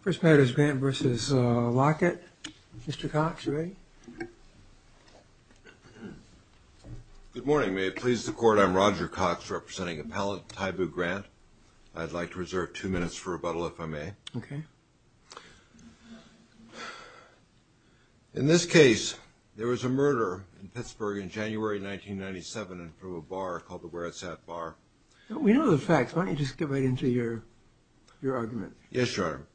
First matter is Grant v. Lockett. Mr. Cox, are you ready? Good morning. May it please the Court, I'm Roger Cox, representing Appellant Tyboo Grant. I'd like to reserve two minutes for rebuttal, if I may. Okay. In this case, there was a murder in Pittsburgh in January 1997 in front of a bar called the Waretsat Bar. We know the facts. Why don't you just get right into your argument? Yes, Your Honor.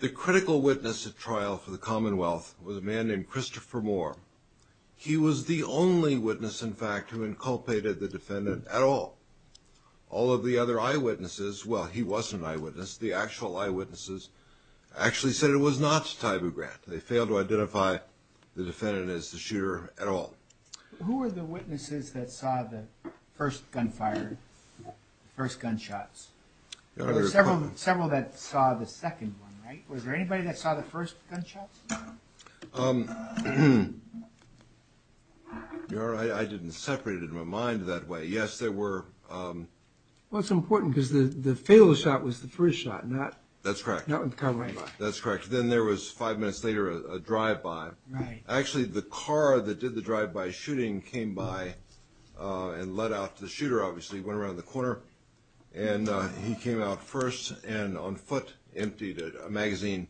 The critical witness at trial for the Commonwealth was a man named Christopher Moore. He was the only witness, in fact, who inculpated the defendant at all. All of the other eyewitnesses – well, he wasn't an eyewitness. The actual eyewitnesses actually said it was not Tyboo Grant. They failed to identify the defendant as the shooter at all. Who were the witnesses that saw the first gunfire, the first gunshots? There were several that saw the second one, right? Was there anybody that saw the first gunshots? Your Honor, I didn't separate it in my mind that way. Yes, there were – Well, it's important because the fatal shot was the first shot, not – That's correct. Not the car right by. That's correct. Then there was, five minutes later, a drive-by. Right. Actually, the car that did the drive-by shooting came by and let out the shooter, obviously, went around the corner, and he came out first and on foot emptied a magazine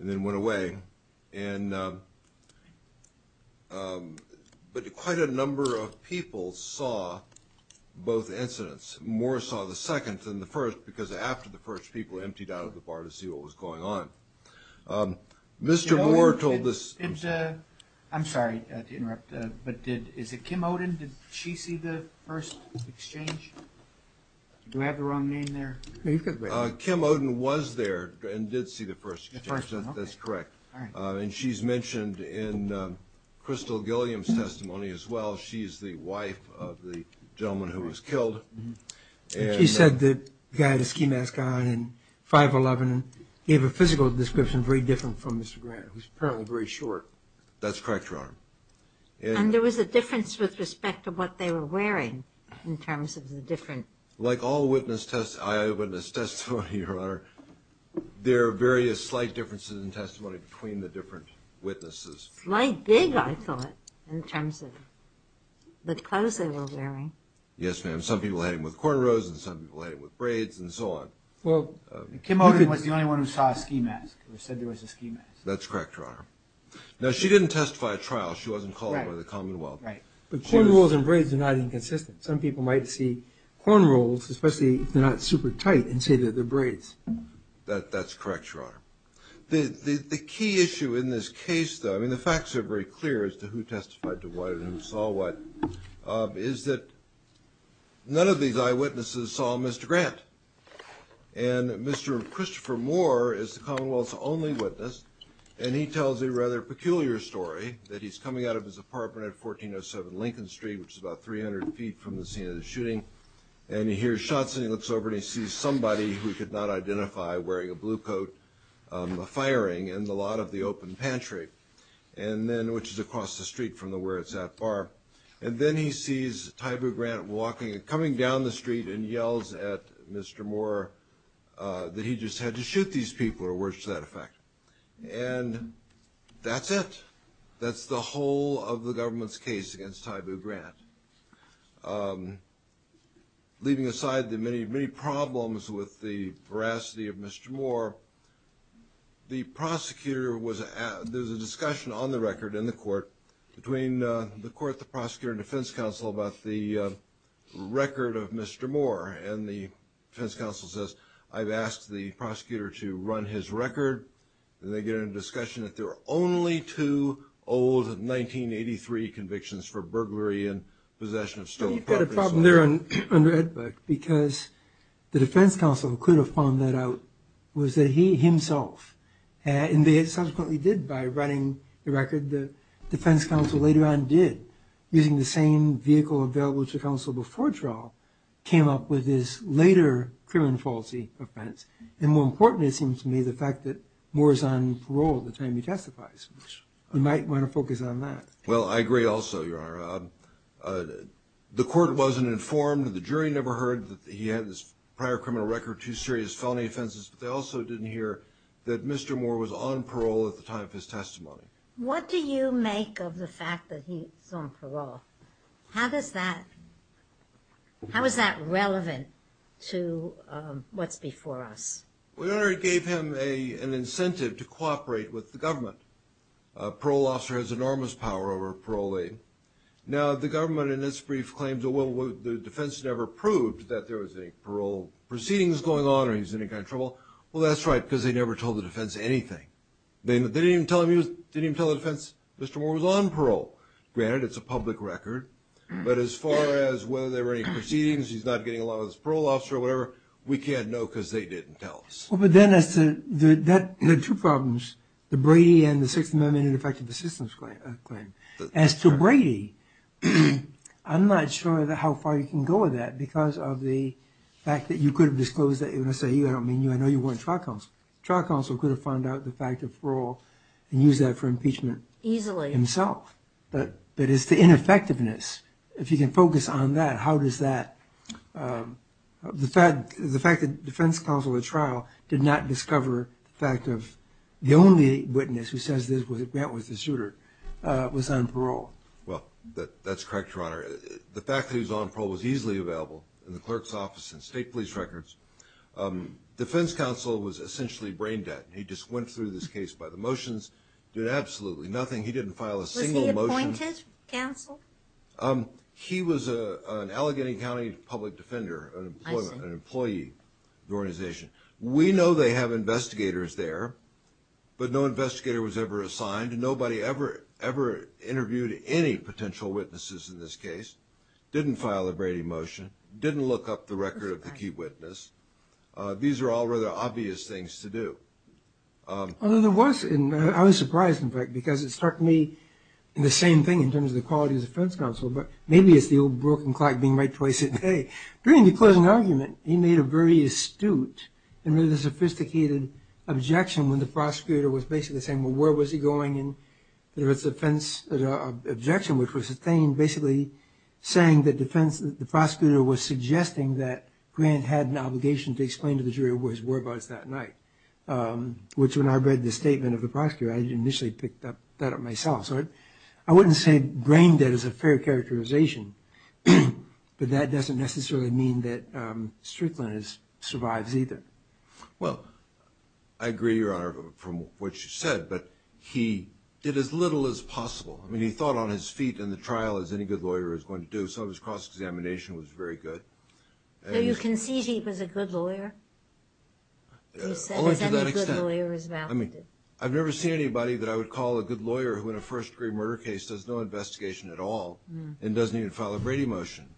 and then went away. But quite a number of people saw both incidents. Moore saw the second and the first because after the first, people emptied out of the bar to see what was going on. Mr. Moore told us – I'm sorry to interrupt, but is it Kim Oden? Did she see the first exchange? Do I have the wrong name there? Kim Oden was there and did see the first exchange. The first one, okay. That's correct. And she's mentioned in Crystal Gilliam's testimony as well. She is the wife of the gentleman who was killed. She said the guy had a ski mask on and 5'11", gave a physical description very different from Mr. Grant, who's apparently very short. That's correct, Your Honor. And there was a difference with respect to what they were wearing in terms of the different – Like all eyewitness testimony, Your Honor, there are various slight differences in testimony between the different witnesses. Slight gig, I thought, in terms of the clothes they were wearing. Yes, ma'am. Some people had them with cornrows and some people had them with braids and so on. Well, Kim Oden was the only one who saw a ski mask or said there was a ski mask. That's correct, Your Honor. Now, she didn't testify at trial. She wasn't called by the Commonwealth. Right. But cornrows and braids are not inconsistent. Some people might see cornrows, especially if they're not super tight, and say they're braids. That's correct, Your Honor. The key issue in this case, though – I mean, the facts are very clear as to who testified to what and who saw what – is that none of these eyewitnesses saw Mr. Grant. And Mr. Christopher Moore is the Commonwealth's only witness, and he tells a rather peculiar story, that he's coming out of his apartment at 1407 Lincoln Street, which is about 300 feet from the scene of the shooting, and he hears shots and he looks over and he sees somebody who he could not identify wearing a blue coat firing in the lot of the open pantry, and then – which is across the street from where it's at bar. And then he sees Tybu Grant walking – coming down the street and yells at Mr. Moore that he just had to shoot these people, or words to that effect. And that's it. That's the whole of the government's case against Tybu Grant. Leaving aside the many, many problems with the veracity of Mr. Moore, the prosecutor was – there was a discussion on the record in the court, between the court, the prosecutor, and defense counsel, about the record of Mr. Moore. And the defense counsel says, I've asked the prosecutor to run his record, and they get into a discussion that there were only two old 1983 convictions for burglary and possession of stolen property. But you've got a problem there under Edberg, because the defense counsel who could have found that out was that he himself, and they subsequently did by running the record, the defense counsel later on did, using the same vehicle available to counsel before trial, came up with this later criminal faulty offense. And more importantly, it seems to me, the fact that Moore is on parole the time he testifies. Well, I agree also, Your Honor. The court wasn't informed. The jury never heard that he had this prior criminal record, two serious felony offenses, but they also didn't hear that Mr. Moore was on parole at the time of his testimony. What do you make of the fact that he's on parole? How does that – how is that relevant to what's before us? Well, Your Honor, it gave him an incentive to cooperate with the government. A parole officer has enormous power over a parolee. Now, the government in its brief claims, well, the defense never proved that there was any parole proceedings going on or he was in any kind of trouble. Well, that's right, because they never told the defense anything. They didn't even tell the defense Mr. Moore was on parole. Granted, it's a public record. But as far as whether there were any proceedings, he's not getting a lot of this parole officer or whatever, we can't know because they didn't tell us. Well, but then as to – there are two problems, the Brady and the Sixth Amendment Ineffective Assistance Claim. As to Brady, I'm not sure how far you can go with that because of the fact that you could have disclosed that. When I say you, I don't mean you. I know you weren't trial counsel. Trial counsel could have found out the fact of parole and used that for impeachment himself. Easily. But it's the ineffectiveness. If you can focus on that, how does that – the fact that defense counsel at trial did not discover the fact of the only witness who says that Grant was the shooter was on parole. Well, that's correct, Your Honor. The fact that he was on parole was easily available in the clerk's office and state police records. Defense counsel was essentially brain dead. He just went through this case by the motions, did absolutely nothing. He didn't file a single motion. Was he appointed counsel? He was an Allegheny County public defender, an employee of the organization. We know they have investigators there, but no investigator was ever assigned. Nobody ever interviewed any potential witnesses in this case, didn't file a Brady motion, didn't look up the record of the key witness. These are all rather obvious things to do. I was surprised, in fact, because it struck me, and the same thing in terms of the quality of the defense counsel, but maybe it's the old broken clock being right twice a day. During the closing argument, he made a very astute and really sophisticated objection when the prosecutor was basically saying, well, where was he going? And there was an objection which was sustained basically saying that the prosecutor was suggesting that Grant had an obligation to explain to the jury where his whereabouts that night, which when I read the statement of the prosecutor, I initially picked that up myself. So I wouldn't say brain dead is a fair characterization, but that doesn't necessarily mean that Strickland survives either. Well, I agree, Your Honor, from what you said, but he did as little as possible. I mean, he thought on his feet in the trial as any good lawyer is going to do, so his cross-examination was very good. So you concede he was a good lawyer? Only to that extent. You said that any good lawyer is validated. I mean, I've never seen anybody that I would call a good lawyer who in a first-degree murder case does no investigation at all and doesn't even file a Brady motion.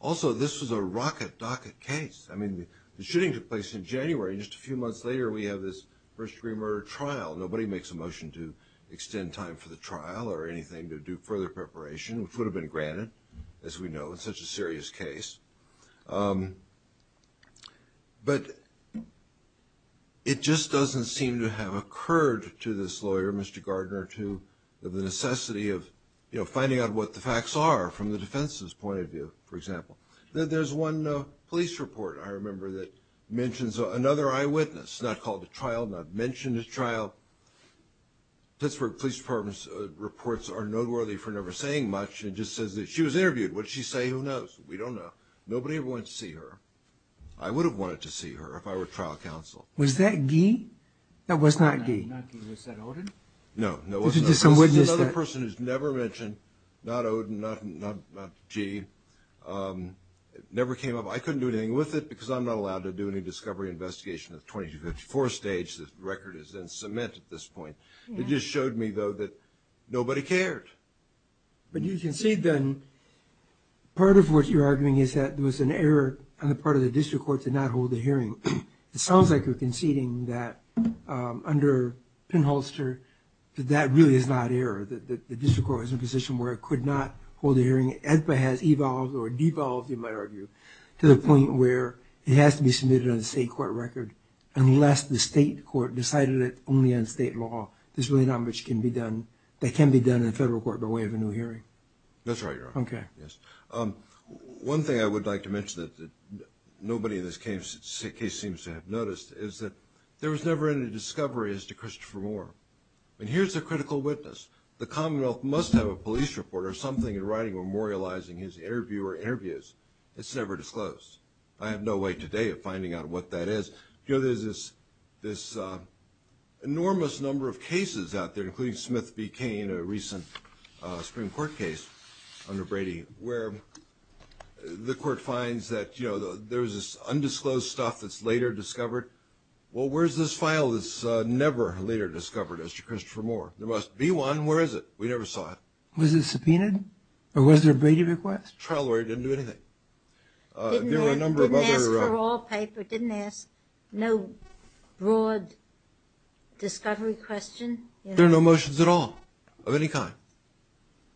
Also, this was a rocket docket case. I mean, the shooting took place in January, and just a few months later we have this first-degree murder trial. Nobody makes a motion to extend time for the trial or anything to do further preparation, which would have been granted, as we know, in such a serious case. But it just doesn't seem to have occurred to this lawyer, Mr. Gardner, to the necessity of finding out what the facts are from the defense's point of view, for example. There's one police report, I remember, that mentions another eyewitness, not called to trial, not mentioned at trial. Pittsburgh Police Department's reports are noteworthy for never saying much. It just says that she was interviewed. What did she say? Who knows? We don't know. Nobody ever went to see her. I would have wanted to see her if I were trial counsel. Was that Gee? That was not Gee. Was that Oden? No. There's another person who's never mentioned, not Oden, not Gee. It never came up. I couldn't do anything with it because I'm not allowed to do any discovery investigation at the 2254 stage. The record is in cement at this point. It just showed me, though, that nobody cared. But you concede, then, part of what you're arguing is that there was an error on the part of the district court to not hold a hearing. It sounds like you're conceding that under Penholster that that really is not error, that the district court was in a position where it could not hold a hearing. AEDPA has evolved or devolved, you might argue, to the point where it has to be submitted on a state court record unless the state court decided it only on state law. There's really not much that can be done in a federal court by way of a new hearing. That's right, Your Honor. Okay. One thing I would like to mention that nobody in this case seems to have noticed is that there was never any discovery as to Christopher Moore. Here's a critical witness. The Commonwealth must have a police report or something in writing memorializing his interview or interviews. It's never disclosed. I have no way today of finding out what that is. There's this enormous number of cases out there, including Smith v. Cain, a recent Supreme Court case under Brady, where the court finds that there's this undisclosed stuff that's later discovered. Well, where's this file that's never later discovered as to Christopher Moore? There must be one. Where is it? We never saw it. Was it subpoenaed or was there a Brady request? Trial lawyer didn't do anything. Didn't ask for all paper. Didn't ask no broad discovery question. There were no motions at all of any kind.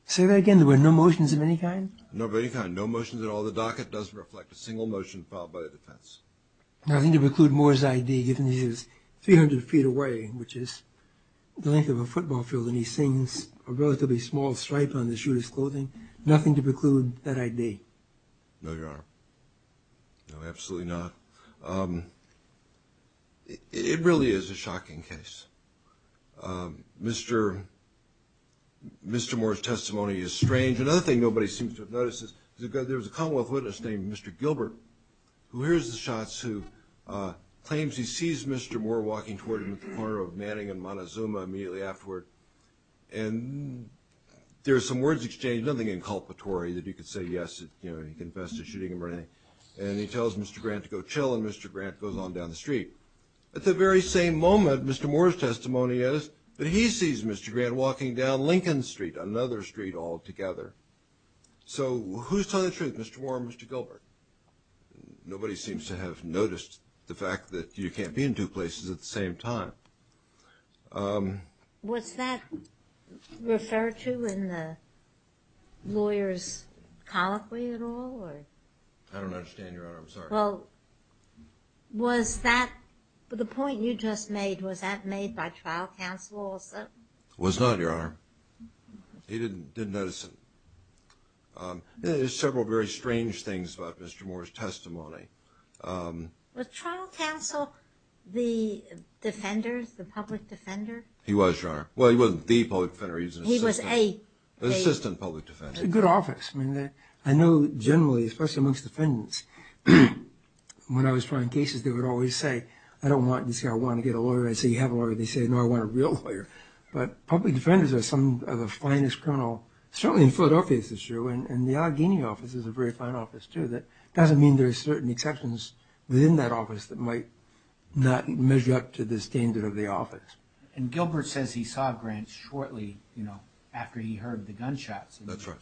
Say that again. There were no motions of any kind? No of any kind. No motions at all. The docket doesn't reflect a single motion filed by the defense. Nothing to preclude Moore's I.D. given he was 300 feet away, which is the length of a football field, and he sings a relatively small stripe on the shooter's clothing. Nothing to preclude that I.D. No, Your Honor. No, absolutely not. It really is a shocking case. Mr. Moore's testimony is strange. Another thing nobody seems to have noticed is there was a Commonwealth witness named Mr. Gilbert, who hears the shots, who claims he sees Mr. Moore walking toward him at the corner of Manning and Montezuma immediately afterward. And there are some words exchanged, nothing inculpatory that you could say yes, you know, he confessed to shooting him or anything. And he tells Mr. Grant to go chill, and Mr. Grant goes on down the street. At the very same moment, Mr. Moore's testimony is that he sees Mr. Grant walking down Lincoln Street, another street altogether. So who's telling the truth, Mr. Moore or Mr. Gilbert? Nobody seems to have noticed the fact that you can't be in two places at the same time. Was that referred to in the lawyer's colloquy at all? I don't understand, Your Honor. I'm sorry. Well, was that, the point you just made, was that made by trial counsel also? It was not, Your Honor. He didn't notice it. Was trial counsel the defenders, the public defender? He was, Your Honor. Well, he wasn't the public defender. He was an assistant public defender. It's a good office. I mean, I know generally, especially amongst defendants, when I was trying cases, they would always say, I don't want this guy, I want to get a lawyer. I'd say, you have a lawyer. They'd say, no, I want a real lawyer. But public defenders are some of the finest criminal, certainly in Philadelphia this is true, and the Allegheny office is a very fine office too. That doesn't mean there are certain exceptions within that office that might not measure up to the standard of the office. And Gilbert says he saw Grant shortly after he heard the gunshots. That's right.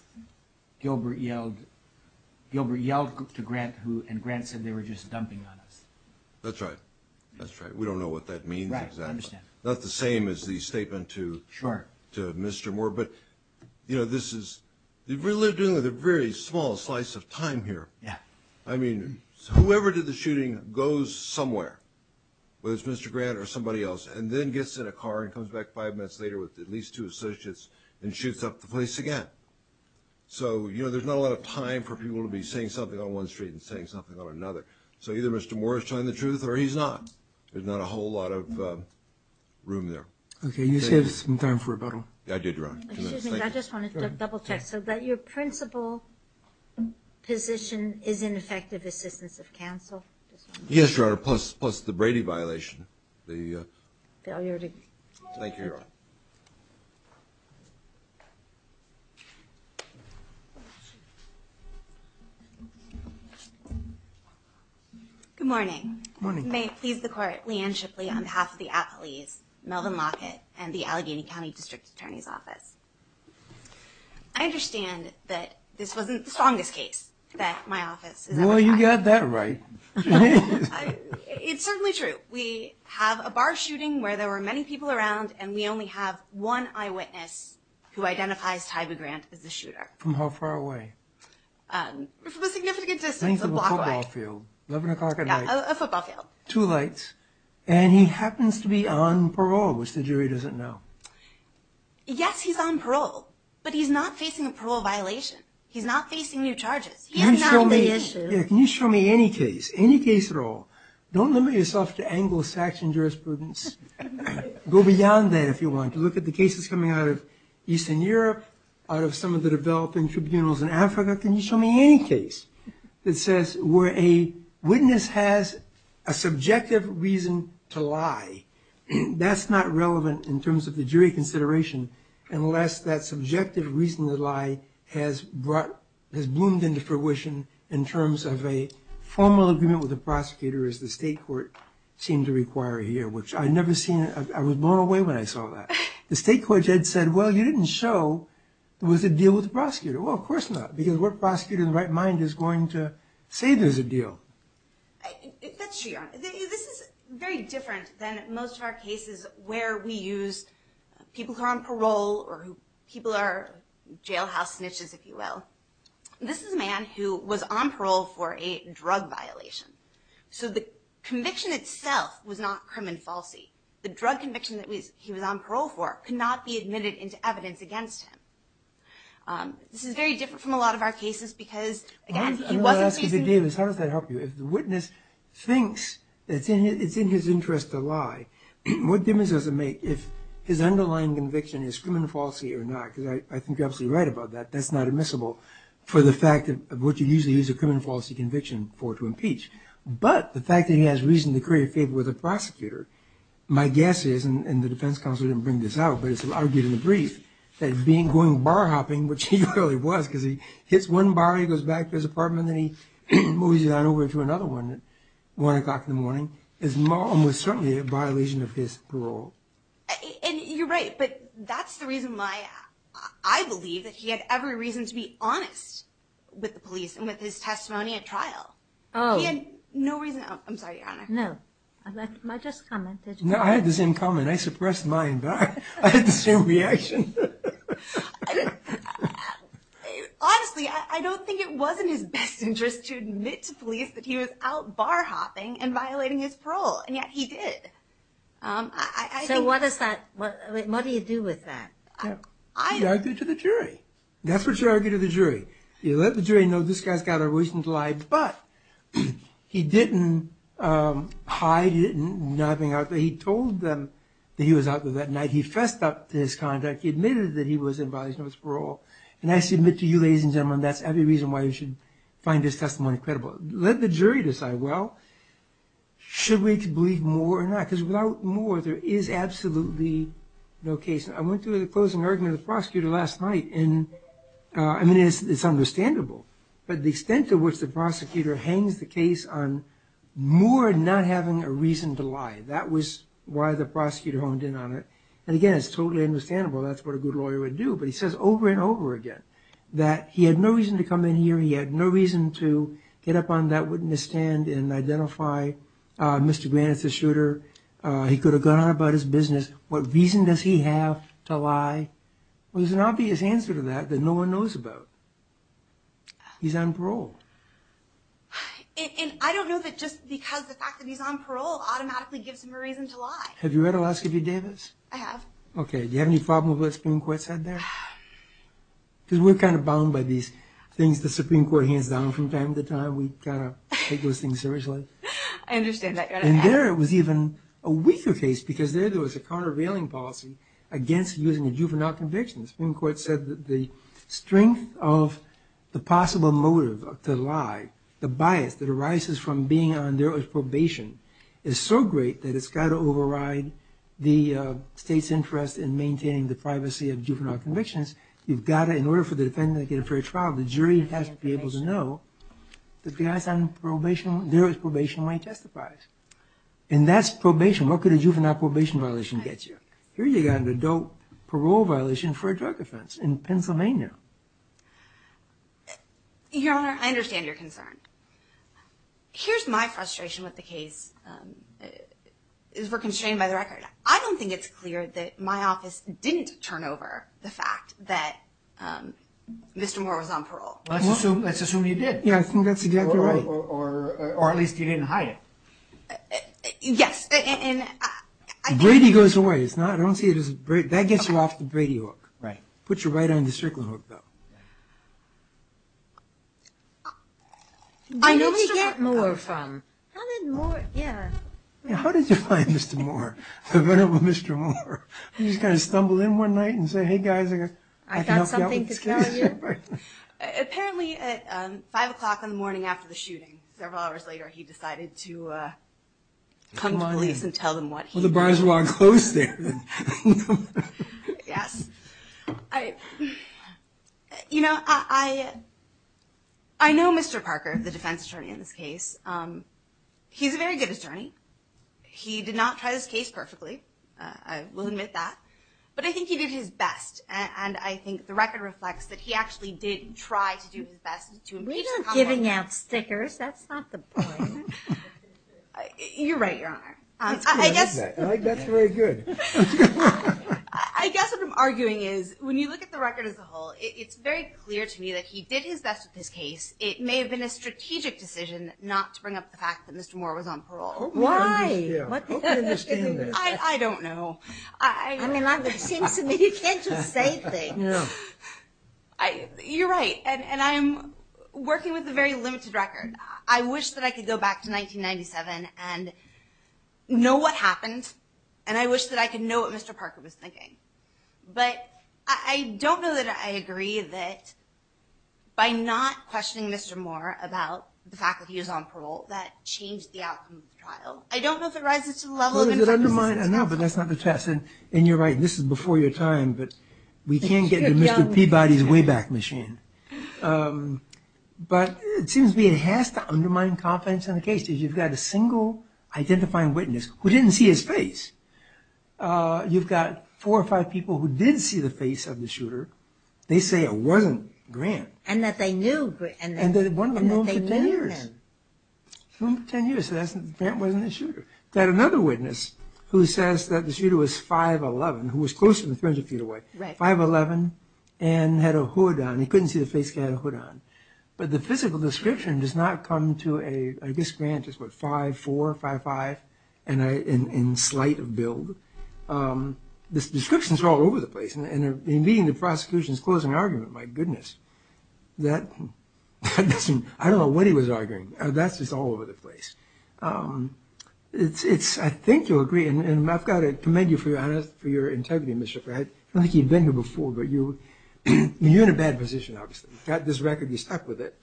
Gilbert yelled to Grant, and Grant said, they were just dumping on us. That's right. That's right. We don't know what that means exactly. Right. I understand. Not the same as the statement to Mr. Moore. But, you know, this is really a very small slice of time here. Yeah. I mean, whoever did the shooting goes somewhere, whether it's Mr. Grant or somebody else, and then gets in a car and comes back five minutes later with at least two associates and shoots up the place again. So, you know, there's not a lot of time for people to be saying something on one street and saying something on another. So either Mr. Moore is telling the truth or he's not. There's not a whole lot of room there. Okay. You saved some time for rebuttal. I did, Your Honor. Excuse me. I just wanted to double-check. So that your principal position is in effective assistance of counsel? Yes, Your Honor, plus the Brady violation. Thank you, Your Honor. Good morning. Good morning. May it please the Court, Leigh Ann Shipley, on behalf of the Attlees, Melvin Lockett, and the Allegheny County District Attorney's Office. I understand that this wasn't the strongest case that my office has ever had. Well, you got that right. It's certainly true. We have a bar shooting where there were many people around, and we only have one eyewitness who identifies Tyba Grant as the shooter. From how far away? From a significant distance, a block away. 11 o'clock at night. Yeah, a football field. Two lights. And he happens to be on parole, which the jury doesn't know. Yes, he's on parole, but he's not facing a parole violation. He's not facing new charges. He's not on the issue. Can you show me any case, any case at all? Don't limit yourself to Anglo-Saxon jurisprudence. Go beyond that if you want to look at the cases coming out of Eastern Europe, out of some of the developing tribunals in Africa. Can you show me any case that says where a witness has a subjective reason to lie? That's not relevant in terms of the jury consideration, unless that subjective reason to lie has bloomed into fruition in terms of a formal agreement with the prosecutor as the state court seemed to require here, which I never seen. I was blown away when I saw that. The state court said, well, you didn't show there was a deal with the prosecutor. Well, of course not, because what prosecutor in the right mind is going to say there's a deal. That's true, Your Honor. This is very different than most of our cases where we use people who are on parole or people who are jailhouse snitches, if you will. This is a man who was on parole for a drug violation. So the conviction itself was not crime and falsity. The drug conviction that he was on parole for could not be admitted into evidence against him. This is very different from a lot of our cases because, again, he wasn't facing- I'm going to ask you, Davis, how does that help you? If the witness thinks that it's in his interest to lie, what difference does it make if his underlying conviction is crime and falsity or not? Because I think you're absolutely right about that. That's not admissible for the fact of what you usually use a crime and falsity conviction for to impeach. But the fact that he has reason to create a favor with the prosecutor, my guess is, and the defense counsel didn't bring this out, but it's argued in the brief, that him going bar hopping, which he really was because he hits one bar, he goes back to his apartment, and then he moves on over to another one at 1 o'clock in the morning, is almost certainly a violation of his parole. And you're right, but that's the reason why I believe that he had every reason to be honest with the police and with his testimony at trial. Oh. He had no reason- I'm sorry, Your Honor. No, I just commented. No, I had the same comment. I suppressed mine, but I had the same reaction. Honestly, I don't think it was in his best interest to admit to police that he was out bar hopping and violating his parole, and yet he did. So what do you do with that? He argued to the jury. That's what you argue to the jury. You let the jury know this guy's got a reason to lie, but he didn't hide it in not being out there. He told them that he was out there that night. He fessed up to his conduct. He admitted that he was in violation of his parole. And I submit to you, ladies and gentlemen, that's every reason why you should find his testimony credible. Let the jury decide, well, should we believe more or not? Because without more, there is absolutely no case. I went through the closing argument of the prosecutor last night, and, I mean, it's understandable, but the extent to which the prosecutor hangs the case on more not having a reason to lie, that was why the prosecutor honed in on it. And, again, it's totally understandable. That's what a good lawyer would do. But he says over and over again that he had no reason to come in here, he had no reason to get up on that witness stand and identify Mr. Grant as the shooter. He could have gone on about his business. What reason does he have to lie? Well, there's an obvious answer to that that no one knows about. He's on parole. And I don't know that just because the fact that he's on parole automatically gives him a reason to lie. Have you read Alaska v. Davis? I have. Okay. Do you have any problem with what the Supreme Court said there? Because we're kind of bound by these things the Supreme Court hands down from time to time. We kind of take those things seriously. I understand that. And there it was even a weaker case, because there there was a countervailing policy against using a juvenile conviction. The Supreme Court said that the strength of the possible motive to lie, the bias that arises from being on derogatory probation, is so great that it's got to override the state's interest in maintaining the privacy of juvenile convictions. You've got to, in order for the defendant to get a fair trial, the jury has to be able to know that the guy's on derogatory probation when he testifies. And that's probation. What could a juvenile probation violation get you? Here you've got an adult parole violation for a drug offense in Pennsylvania. Your Honor, I understand your concern. Here's my frustration with the case. We're constrained by the record. I don't think it's clear that my office didn't turn over the fact that Mr. Moore was on parole. Let's assume you did. Yeah, I think that's exactly right. Or at least you didn't hide it. Yes. Brady goes away. That gets you off the Brady hook. Right. Puts you right on the circling hook, though. Where did Mr. Moore come from? How did Moore, yeah. How did you find Mr. Moore? You just kind of stumble in one night and say, hey guys, I can help you out with this case. Apparently at 5 o'clock in the morning after the shooting, several hours later, he decided to come to police and tell them what he knew. Well, the bars were on close there. Yes. You know, I know Mr. Parker, the defense attorney in this case. He's a very good attorney. He did not try this case perfectly. I will admit that. But I think he did his best. And I think the record reflects that he actually did try to do his best. We're not giving out stickers. That's not the point. You're right, Your Honor. That's very good. I guess what I'm arguing is when you look at the record as a whole, it's very clear to me that he did his best with this case. It may have been a strategic decision not to bring up the fact that Mr. Moore was on parole. Why? I don't know. I mean, it seems to me you can't just say things. You're right. And I'm working with a very limited record. I wish that I could go back to 1997 and know what happened, and I wish that I could know what Mr. Parker was thinking. But I don't know that I agree that by not questioning Mr. Moore about the fact that he was on parole, that changed the outcome of the trial. I don't know if it rises to the level of an infectious disease trial. No, but that's not the test. And you're right, this is before your time, but we can't get into Mr. Peabody's Wayback Machine. But it seems to me it has to undermine confidence in the case because you've got a single identifying witness who didn't see his face. You've got four or five people who did see the face of the shooter. They say it wasn't Grant. And that they knew Grant. And one of them knew him for 10 years. They knew him for 10 years, so Grant wasn't the shooter. You've got another witness who says that the shooter was 5'11", who was closer than 300 feet away, 5'11", and had a hood on. He couldn't see the face because he had a hood on. But the physical description does not come to a, I guess Grant is what, 5'4", 5'5", in slight of build. The descriptions are all over the place. And in meeting the prosecution's closing argument, my goodness, that doesn't, I don't know what he was arguing. That's just all over the place. It's, I think you'll agree, and I've got to commend you for your integrity, Mr. Peabody. I don't think you've been here before, but you're in a bad position, obviously. You've got this record, you stuck with it.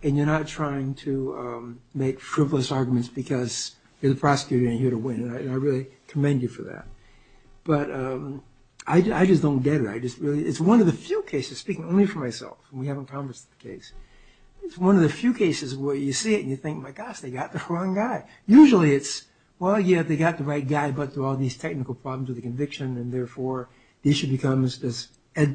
And you're not trying to make frivolous arguments because you're the prosecutor and you're here to win. And I really commend you for that. But I just don't get it. It's one of the few cases, speaking only for myself, and we haven't conversed the case. It's one of the few cases where you see it and you think, my gosh, they got the wrong guy. Usually it's, well, yeah, they got the right guy, but there are all these technical problems with the conviction, and therefore, the issue becomes, as the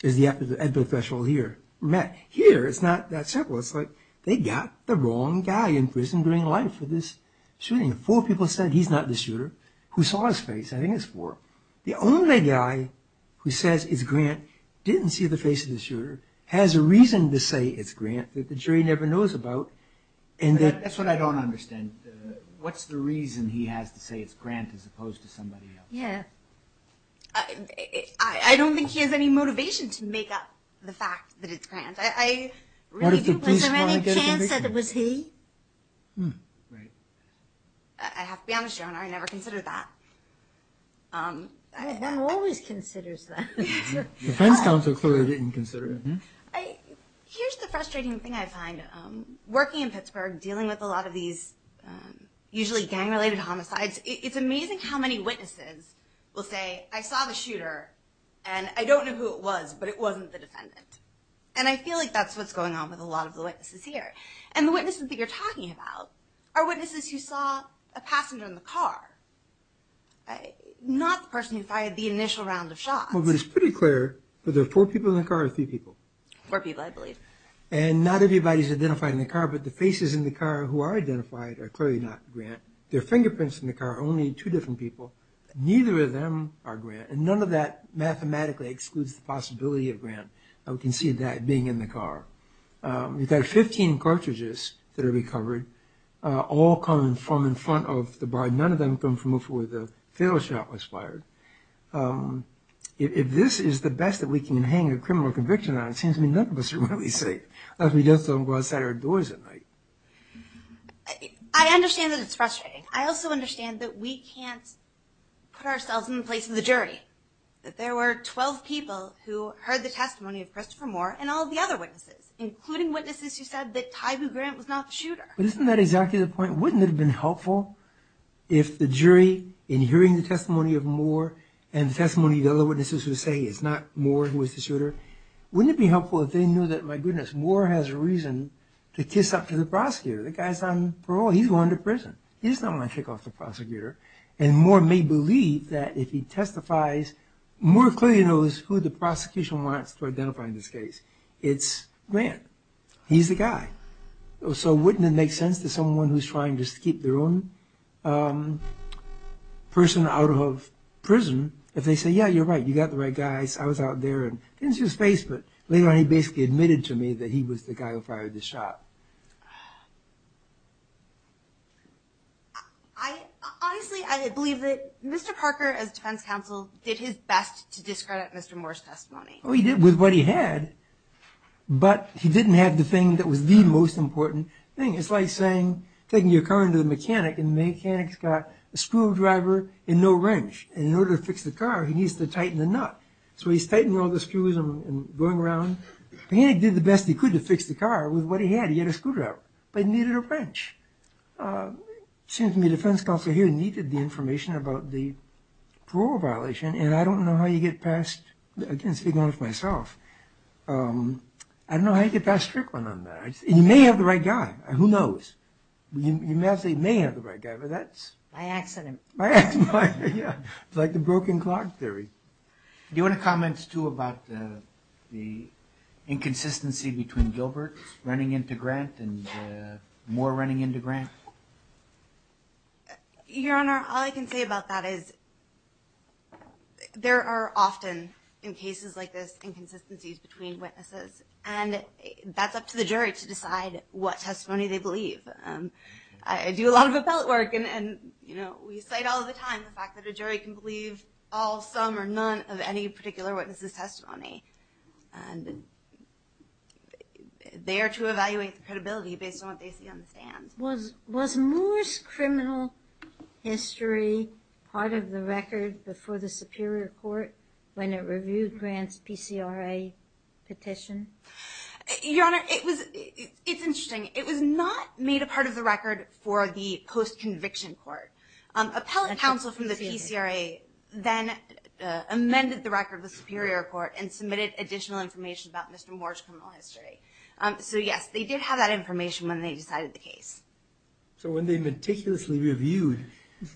EDPA threshold here met. Here, it's not that simple. It's like, they got the wrong guy in prison during life for this shooting. Four people said he's not the shooter who saw his face, I think it's four. The only guy who says it's Grant, didn't see the face of the shooter, has a reason to say it's Grant that the jury never knows about. That's what I don't understand. What's the reason he has to say it's Grant as opposed to somebody else? I don't think he has any motivation to make up the fact that it's Grant. Was there any chance that it was he? Right. I have to be honest, Joan, I never considered that. One always considers that. The defense counsel clearly didn't consider it. Here's the frustrating thing I find. Working in Pittsburgh, dealing with a lot of these usually gang-related homicides, it's amazing how many witnesses will say, I saw the shooter, and I don't know who it was, but it wasn't the defendant. And I feel like that's what's going on with a lot of the witnesses here. And the witnesses that you're talking about are witnesses who saw a passenger in the car, not the person who fired the initial round of shots. Well, but it's pretty clear whether there were four people in the car or three people. Four people, I believe. And not everybody's identified in the car, but the faces in the car who are identified are clearly not Grant. Their fingerprints in the car are only two different people. Neither of them are Grant, and none of that mathematically excludes the possibility of Grant. We can see that being in the car. We've got 15 cartridges that are recovered, all coming from in front of the bar. None of them come from before the fatal shot was fired. If this is the best that we can hang a criminal conviction on, it seems to me none of us are really safe. Unless we just don't go outside our doors at night. I understand that it's frustrating. I also understand that we can't put ourselves in the place of the jury, that there were 12 people who heard the testimony of Christopher Moore and all the other witnesses, including witnesses who said that Tyboo Grant was not the shooter. But isn't that exactly the point? Wouldn't it have been helpful if the jury, in hearing the testimony of Moore and the testimony of the other witnesses who say it's not Moore who was the shooter, wouldn't it be helpful if they knew that, my goodness, Moore has a reason to kiss up to the prosecutor. The guy's on parole. He's not going to kick off the prosecutor. And Moore may believe that if he testifies, Moore clearly knows who the prosecution wants to identify in this case. It's Grant. He's the guy. So wouldn't it make sense to someone who's trying to keep their own person out of prison, if they say, yeah, you're right, you got the right guy, I was out there and didn't see his face, but later on he basically admitted to me that he was the guy who fired the shot. Honestly, I believe that Mr. Parker, as defense counsel, did his best to discredit Mr. Moore's testimony. Well, he did with what he had, but he didn't have the thing that was the most important thing. It's like saying, taking your car into the mechanic, and the mechanic's got a screwdriver and no wrench, and in order to fix the car, he needs to tighten the nut. So he's tightening all the screws and going around. The mechanic did the best he could to fix the car with what he had. He had a screwdriver, but he needed a wrench. It seems to me defense counsel here needed the information about the parole violation, and I don't know how you get past, I can't speak on it myself, I don't know how you get past Strickland on that. You may have the right guy, who knows. You may have the right guy, but that's... By accident. By accident, yeah. It's like the broken clock theory. Do you want to comment, too, about the inconsistency between Gilbert running into Grant and Moore running into Grant? Your Honor, all I can say about that is there are often, in cases like this, inconsistencies between witnesses, and that's up to the jury to decide what testimony they believe. I do a lot of appellate work, and we cite all the time the fact that a jury can believe all, some, or none of any particular witness's testimony. They are to evaluate the credibility based on what they see on the stand. Was Moore's criminal history part of the record before the Superior Court when it reviewed Grant's PCRA petition? Your Honor, it's interesting. It was not made a part of the record for the post-conviction court. Appellate counsel from the PCRA then amended the record of the Superior Court and submitted additional information about Mr. Moore's criminal history. So yes, they did have that information when they decided the case. So when they meticulously reviewed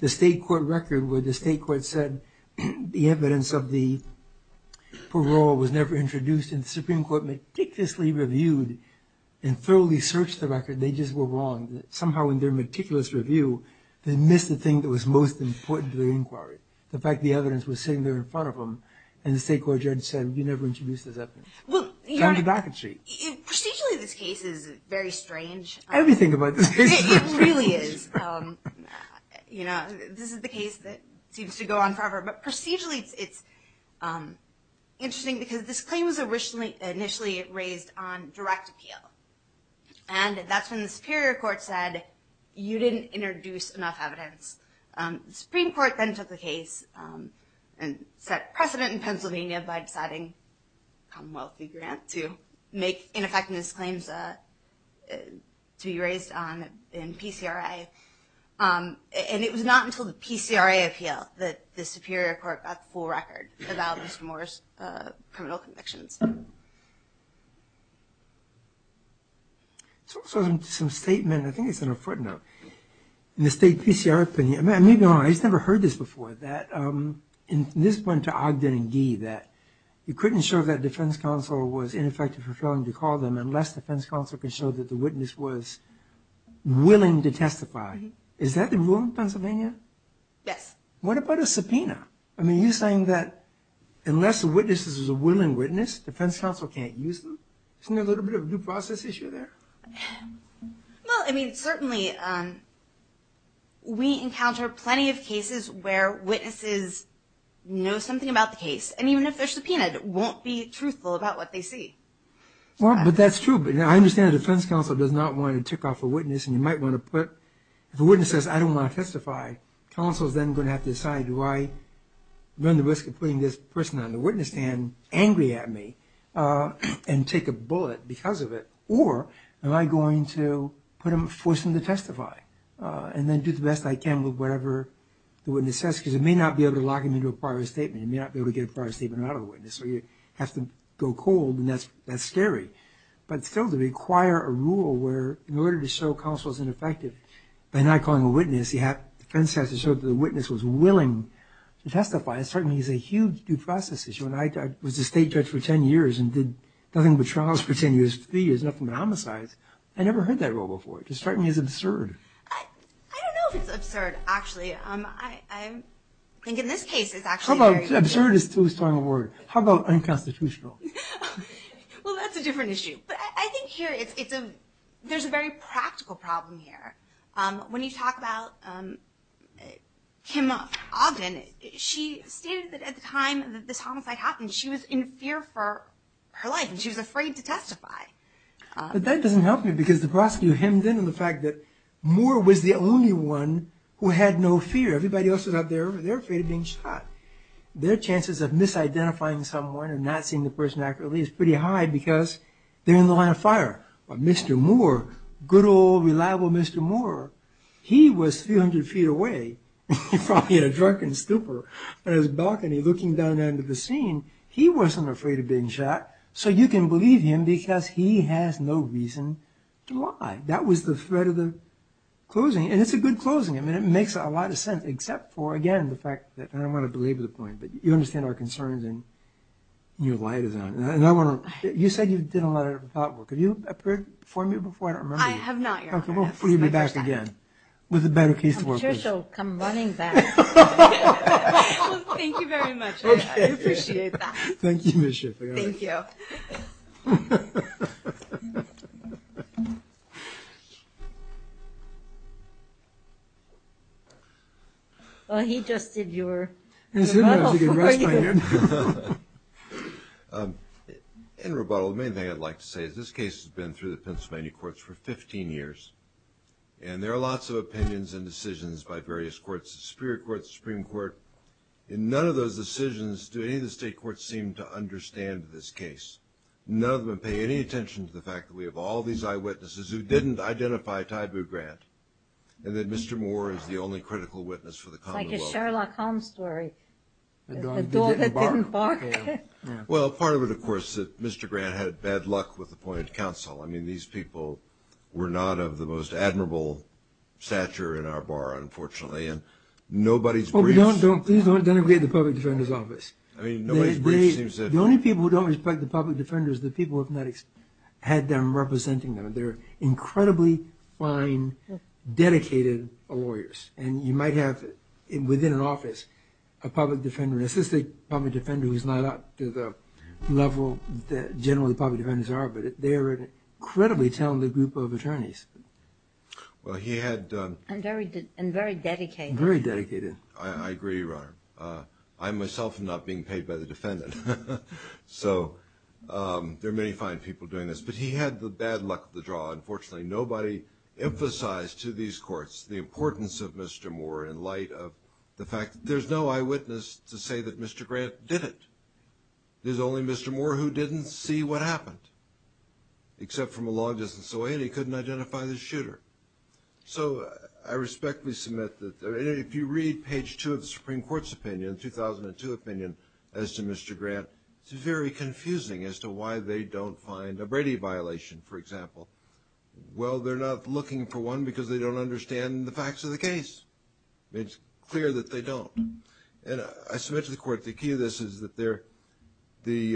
the State Court record where the State Court said the evidence of the parole was never introduced, and the Supreme Court meticulously reviewed and thoroughly searched the record, they just were wrong. Somehow in their meticulous review, they missed the thing that was most important to their inquiry. The fact that the evidence was sitting there in front of them, and the State Court judge said, you never introduced this evidence. Well, Your Honor, procedurally this case is very strange. Everything about this case is very strange. It really is. You know, this is the case that seems to go on forever, but procedurally it's interesting because this claim was initially raised on direct appeal. And that's when the Superior Court said, you didn't introduce enough evidence. The Supreme Court then took the case and set precedent in Pennsylvania by deciding a Commonwealth fee grant to make ineffective claims to be raised on in PCRA. And it was not until the PCRA appeal that the Superior Court got the full record about Mr. Moore's criminal convictions. So some statement, I think it's in a footnote. In the State PCRA opinion, maybe I'm wrong, I just never heard this before, that this went to Ogden and Gee that you couldn't show that defense counsel was ineffective for failing to call them unless defense counsel could show that the witness was willing to testify. Is that the rule in Pennsylvania? Yes. What about a subpoena? I mean, you're saying that unless the witness is a willing witness, defense counsel can't use them? Isn't there a little bit of a due process issue there? Well, I mean, certainly we encounter plenty of cases where witnesses know something about the case, and even if they're subpoenaed, won't be truthful about what they see. Well, but that's true. I understand the defense counsel does not want to tick off a witness, and you might want to put, if a witness says, I don't want to testify, counsel is then going to have to decide, do I run the risk of putting this person on the witness stand angry at me and take a bullet because of it, or am I going to put him, force him to testify and then do the best I can with whatever the witness says, because it may not be able to lock him into a prior statement, it may not be able to get a prior statement out of a witness, or you have to go cold, and that's scary. But still, to require a rule where in order to show counsel is ineffective, by not calling a witness, the defense has to show that the witness was willing to testify, that certainly is a huge due process issue. When I was a state judge for 10 years and did nothing but trials for 10 years, three years, nothing but homicides, I never heard that rule before. It just struck me as absurd. I don't know if it's absurd, actually. I think in this case it's actually very good. Absurd is too strong a word. How about unconstitutional? Well, that's a different issue. But I think here there's a very practical problem here. When you talk about Kim Ogden, she stated that at the time that this homicide happened, she was in fear for her life, and she was afraid to testify. But that doesn't help me because the prosecutor hemmed in on the fact that Moore was the only one who had no fear. Everybody else was out there, they were afraid of being shot. Their chances of misidentifying someone and not seeing the person accurately is pretty high because they're in the line of fire. But Mr. Moore, good old reliable Mr. Moore, he was 300 feet away from a drunken stupor, on his balcony looking down into the scene. He wasn't afraid of being shot, so you can believe him because he has no reason to lie. That was the thread of the closing, and it's a good closing. It makes a lot of sense, except for, again, the fact that I don't want to belabor the point, but you understand our concerns and your light is on. You said you did a lot of thought work. Have you appeared before me before? I don't remember you. I have not, Your Honor. Okay, well, we'll be back again with a better case to work with. I'm sure she'll come running back. Well, thank you very much. I appreciate that. Thank you, Ms. Schiff. Thank you. Well, he just did your... Rebuttal for you. In none of those decisions do any of the State Courts seem to understand this case. None of them pay any attention to the fact that we have all these eyewitnesses who didn't identify Tybu Grant, and that Mr. Moore is the only critical witness for the Commonwealth. Like a Sherlock Holmes story. The doll that didn't bark. Well, part of it, of course, is that Mr. Grant had bad luck with appointed counsel. I mean, these people were not of the most admirable stature in our bar, unfortunately. Nobody's briefs... Please don't denigrate the Public Defender's Office. I mean, nobody's briefs seems to... The only people who don't respect the public defender is the people with medics had them representing them. They're incredibly fine, dedicated lawyers. And you might have, within an office, a public defender, an assistant public defender who's not up to the level that generally public defenders are, but they're an incredibly talented group of attorneys. Well, he had... And very dedicated. Very dedicated. I agree, Your Honor. I myself am not being paid by the defendant. So, there are many fine people doing this. But he had the bad luck of the draw, unfortunately. Nobody emphasized to these courts the importance of Mr. Moore in light of the fact that there's no eyewitness to say that Mr. Grant did it. There's only Mr. Moore who didn't see what happened, except from a long distance away, and he couldn't identify the shooter. So, I respectfully submit that... And if you read page 2 of the Supreme Court's opinion, 2002 opinion, as to Mr. Grant, it's very confusing as to why they don't find a Brady violation, for example. Well, they're not looking for one because they don't understand the facts of the case. It's clear that they don't. And I submit to the court the key to this is that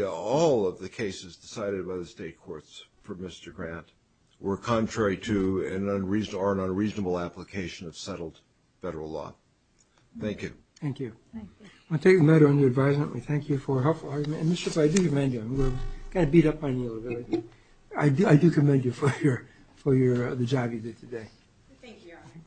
all of the cases decided by the state courts for Mr. Grant were contrary to or are an unreasonable application of settled federal law. Thank you. Thank you. Thank you. I'll take the matter under advisement. We thank you for a helpful argument. And, Mr. Floyd, I do commend you. I'm going to beat up on you a little bit. I do commend you for the job you did today. Thank you, Your Honor.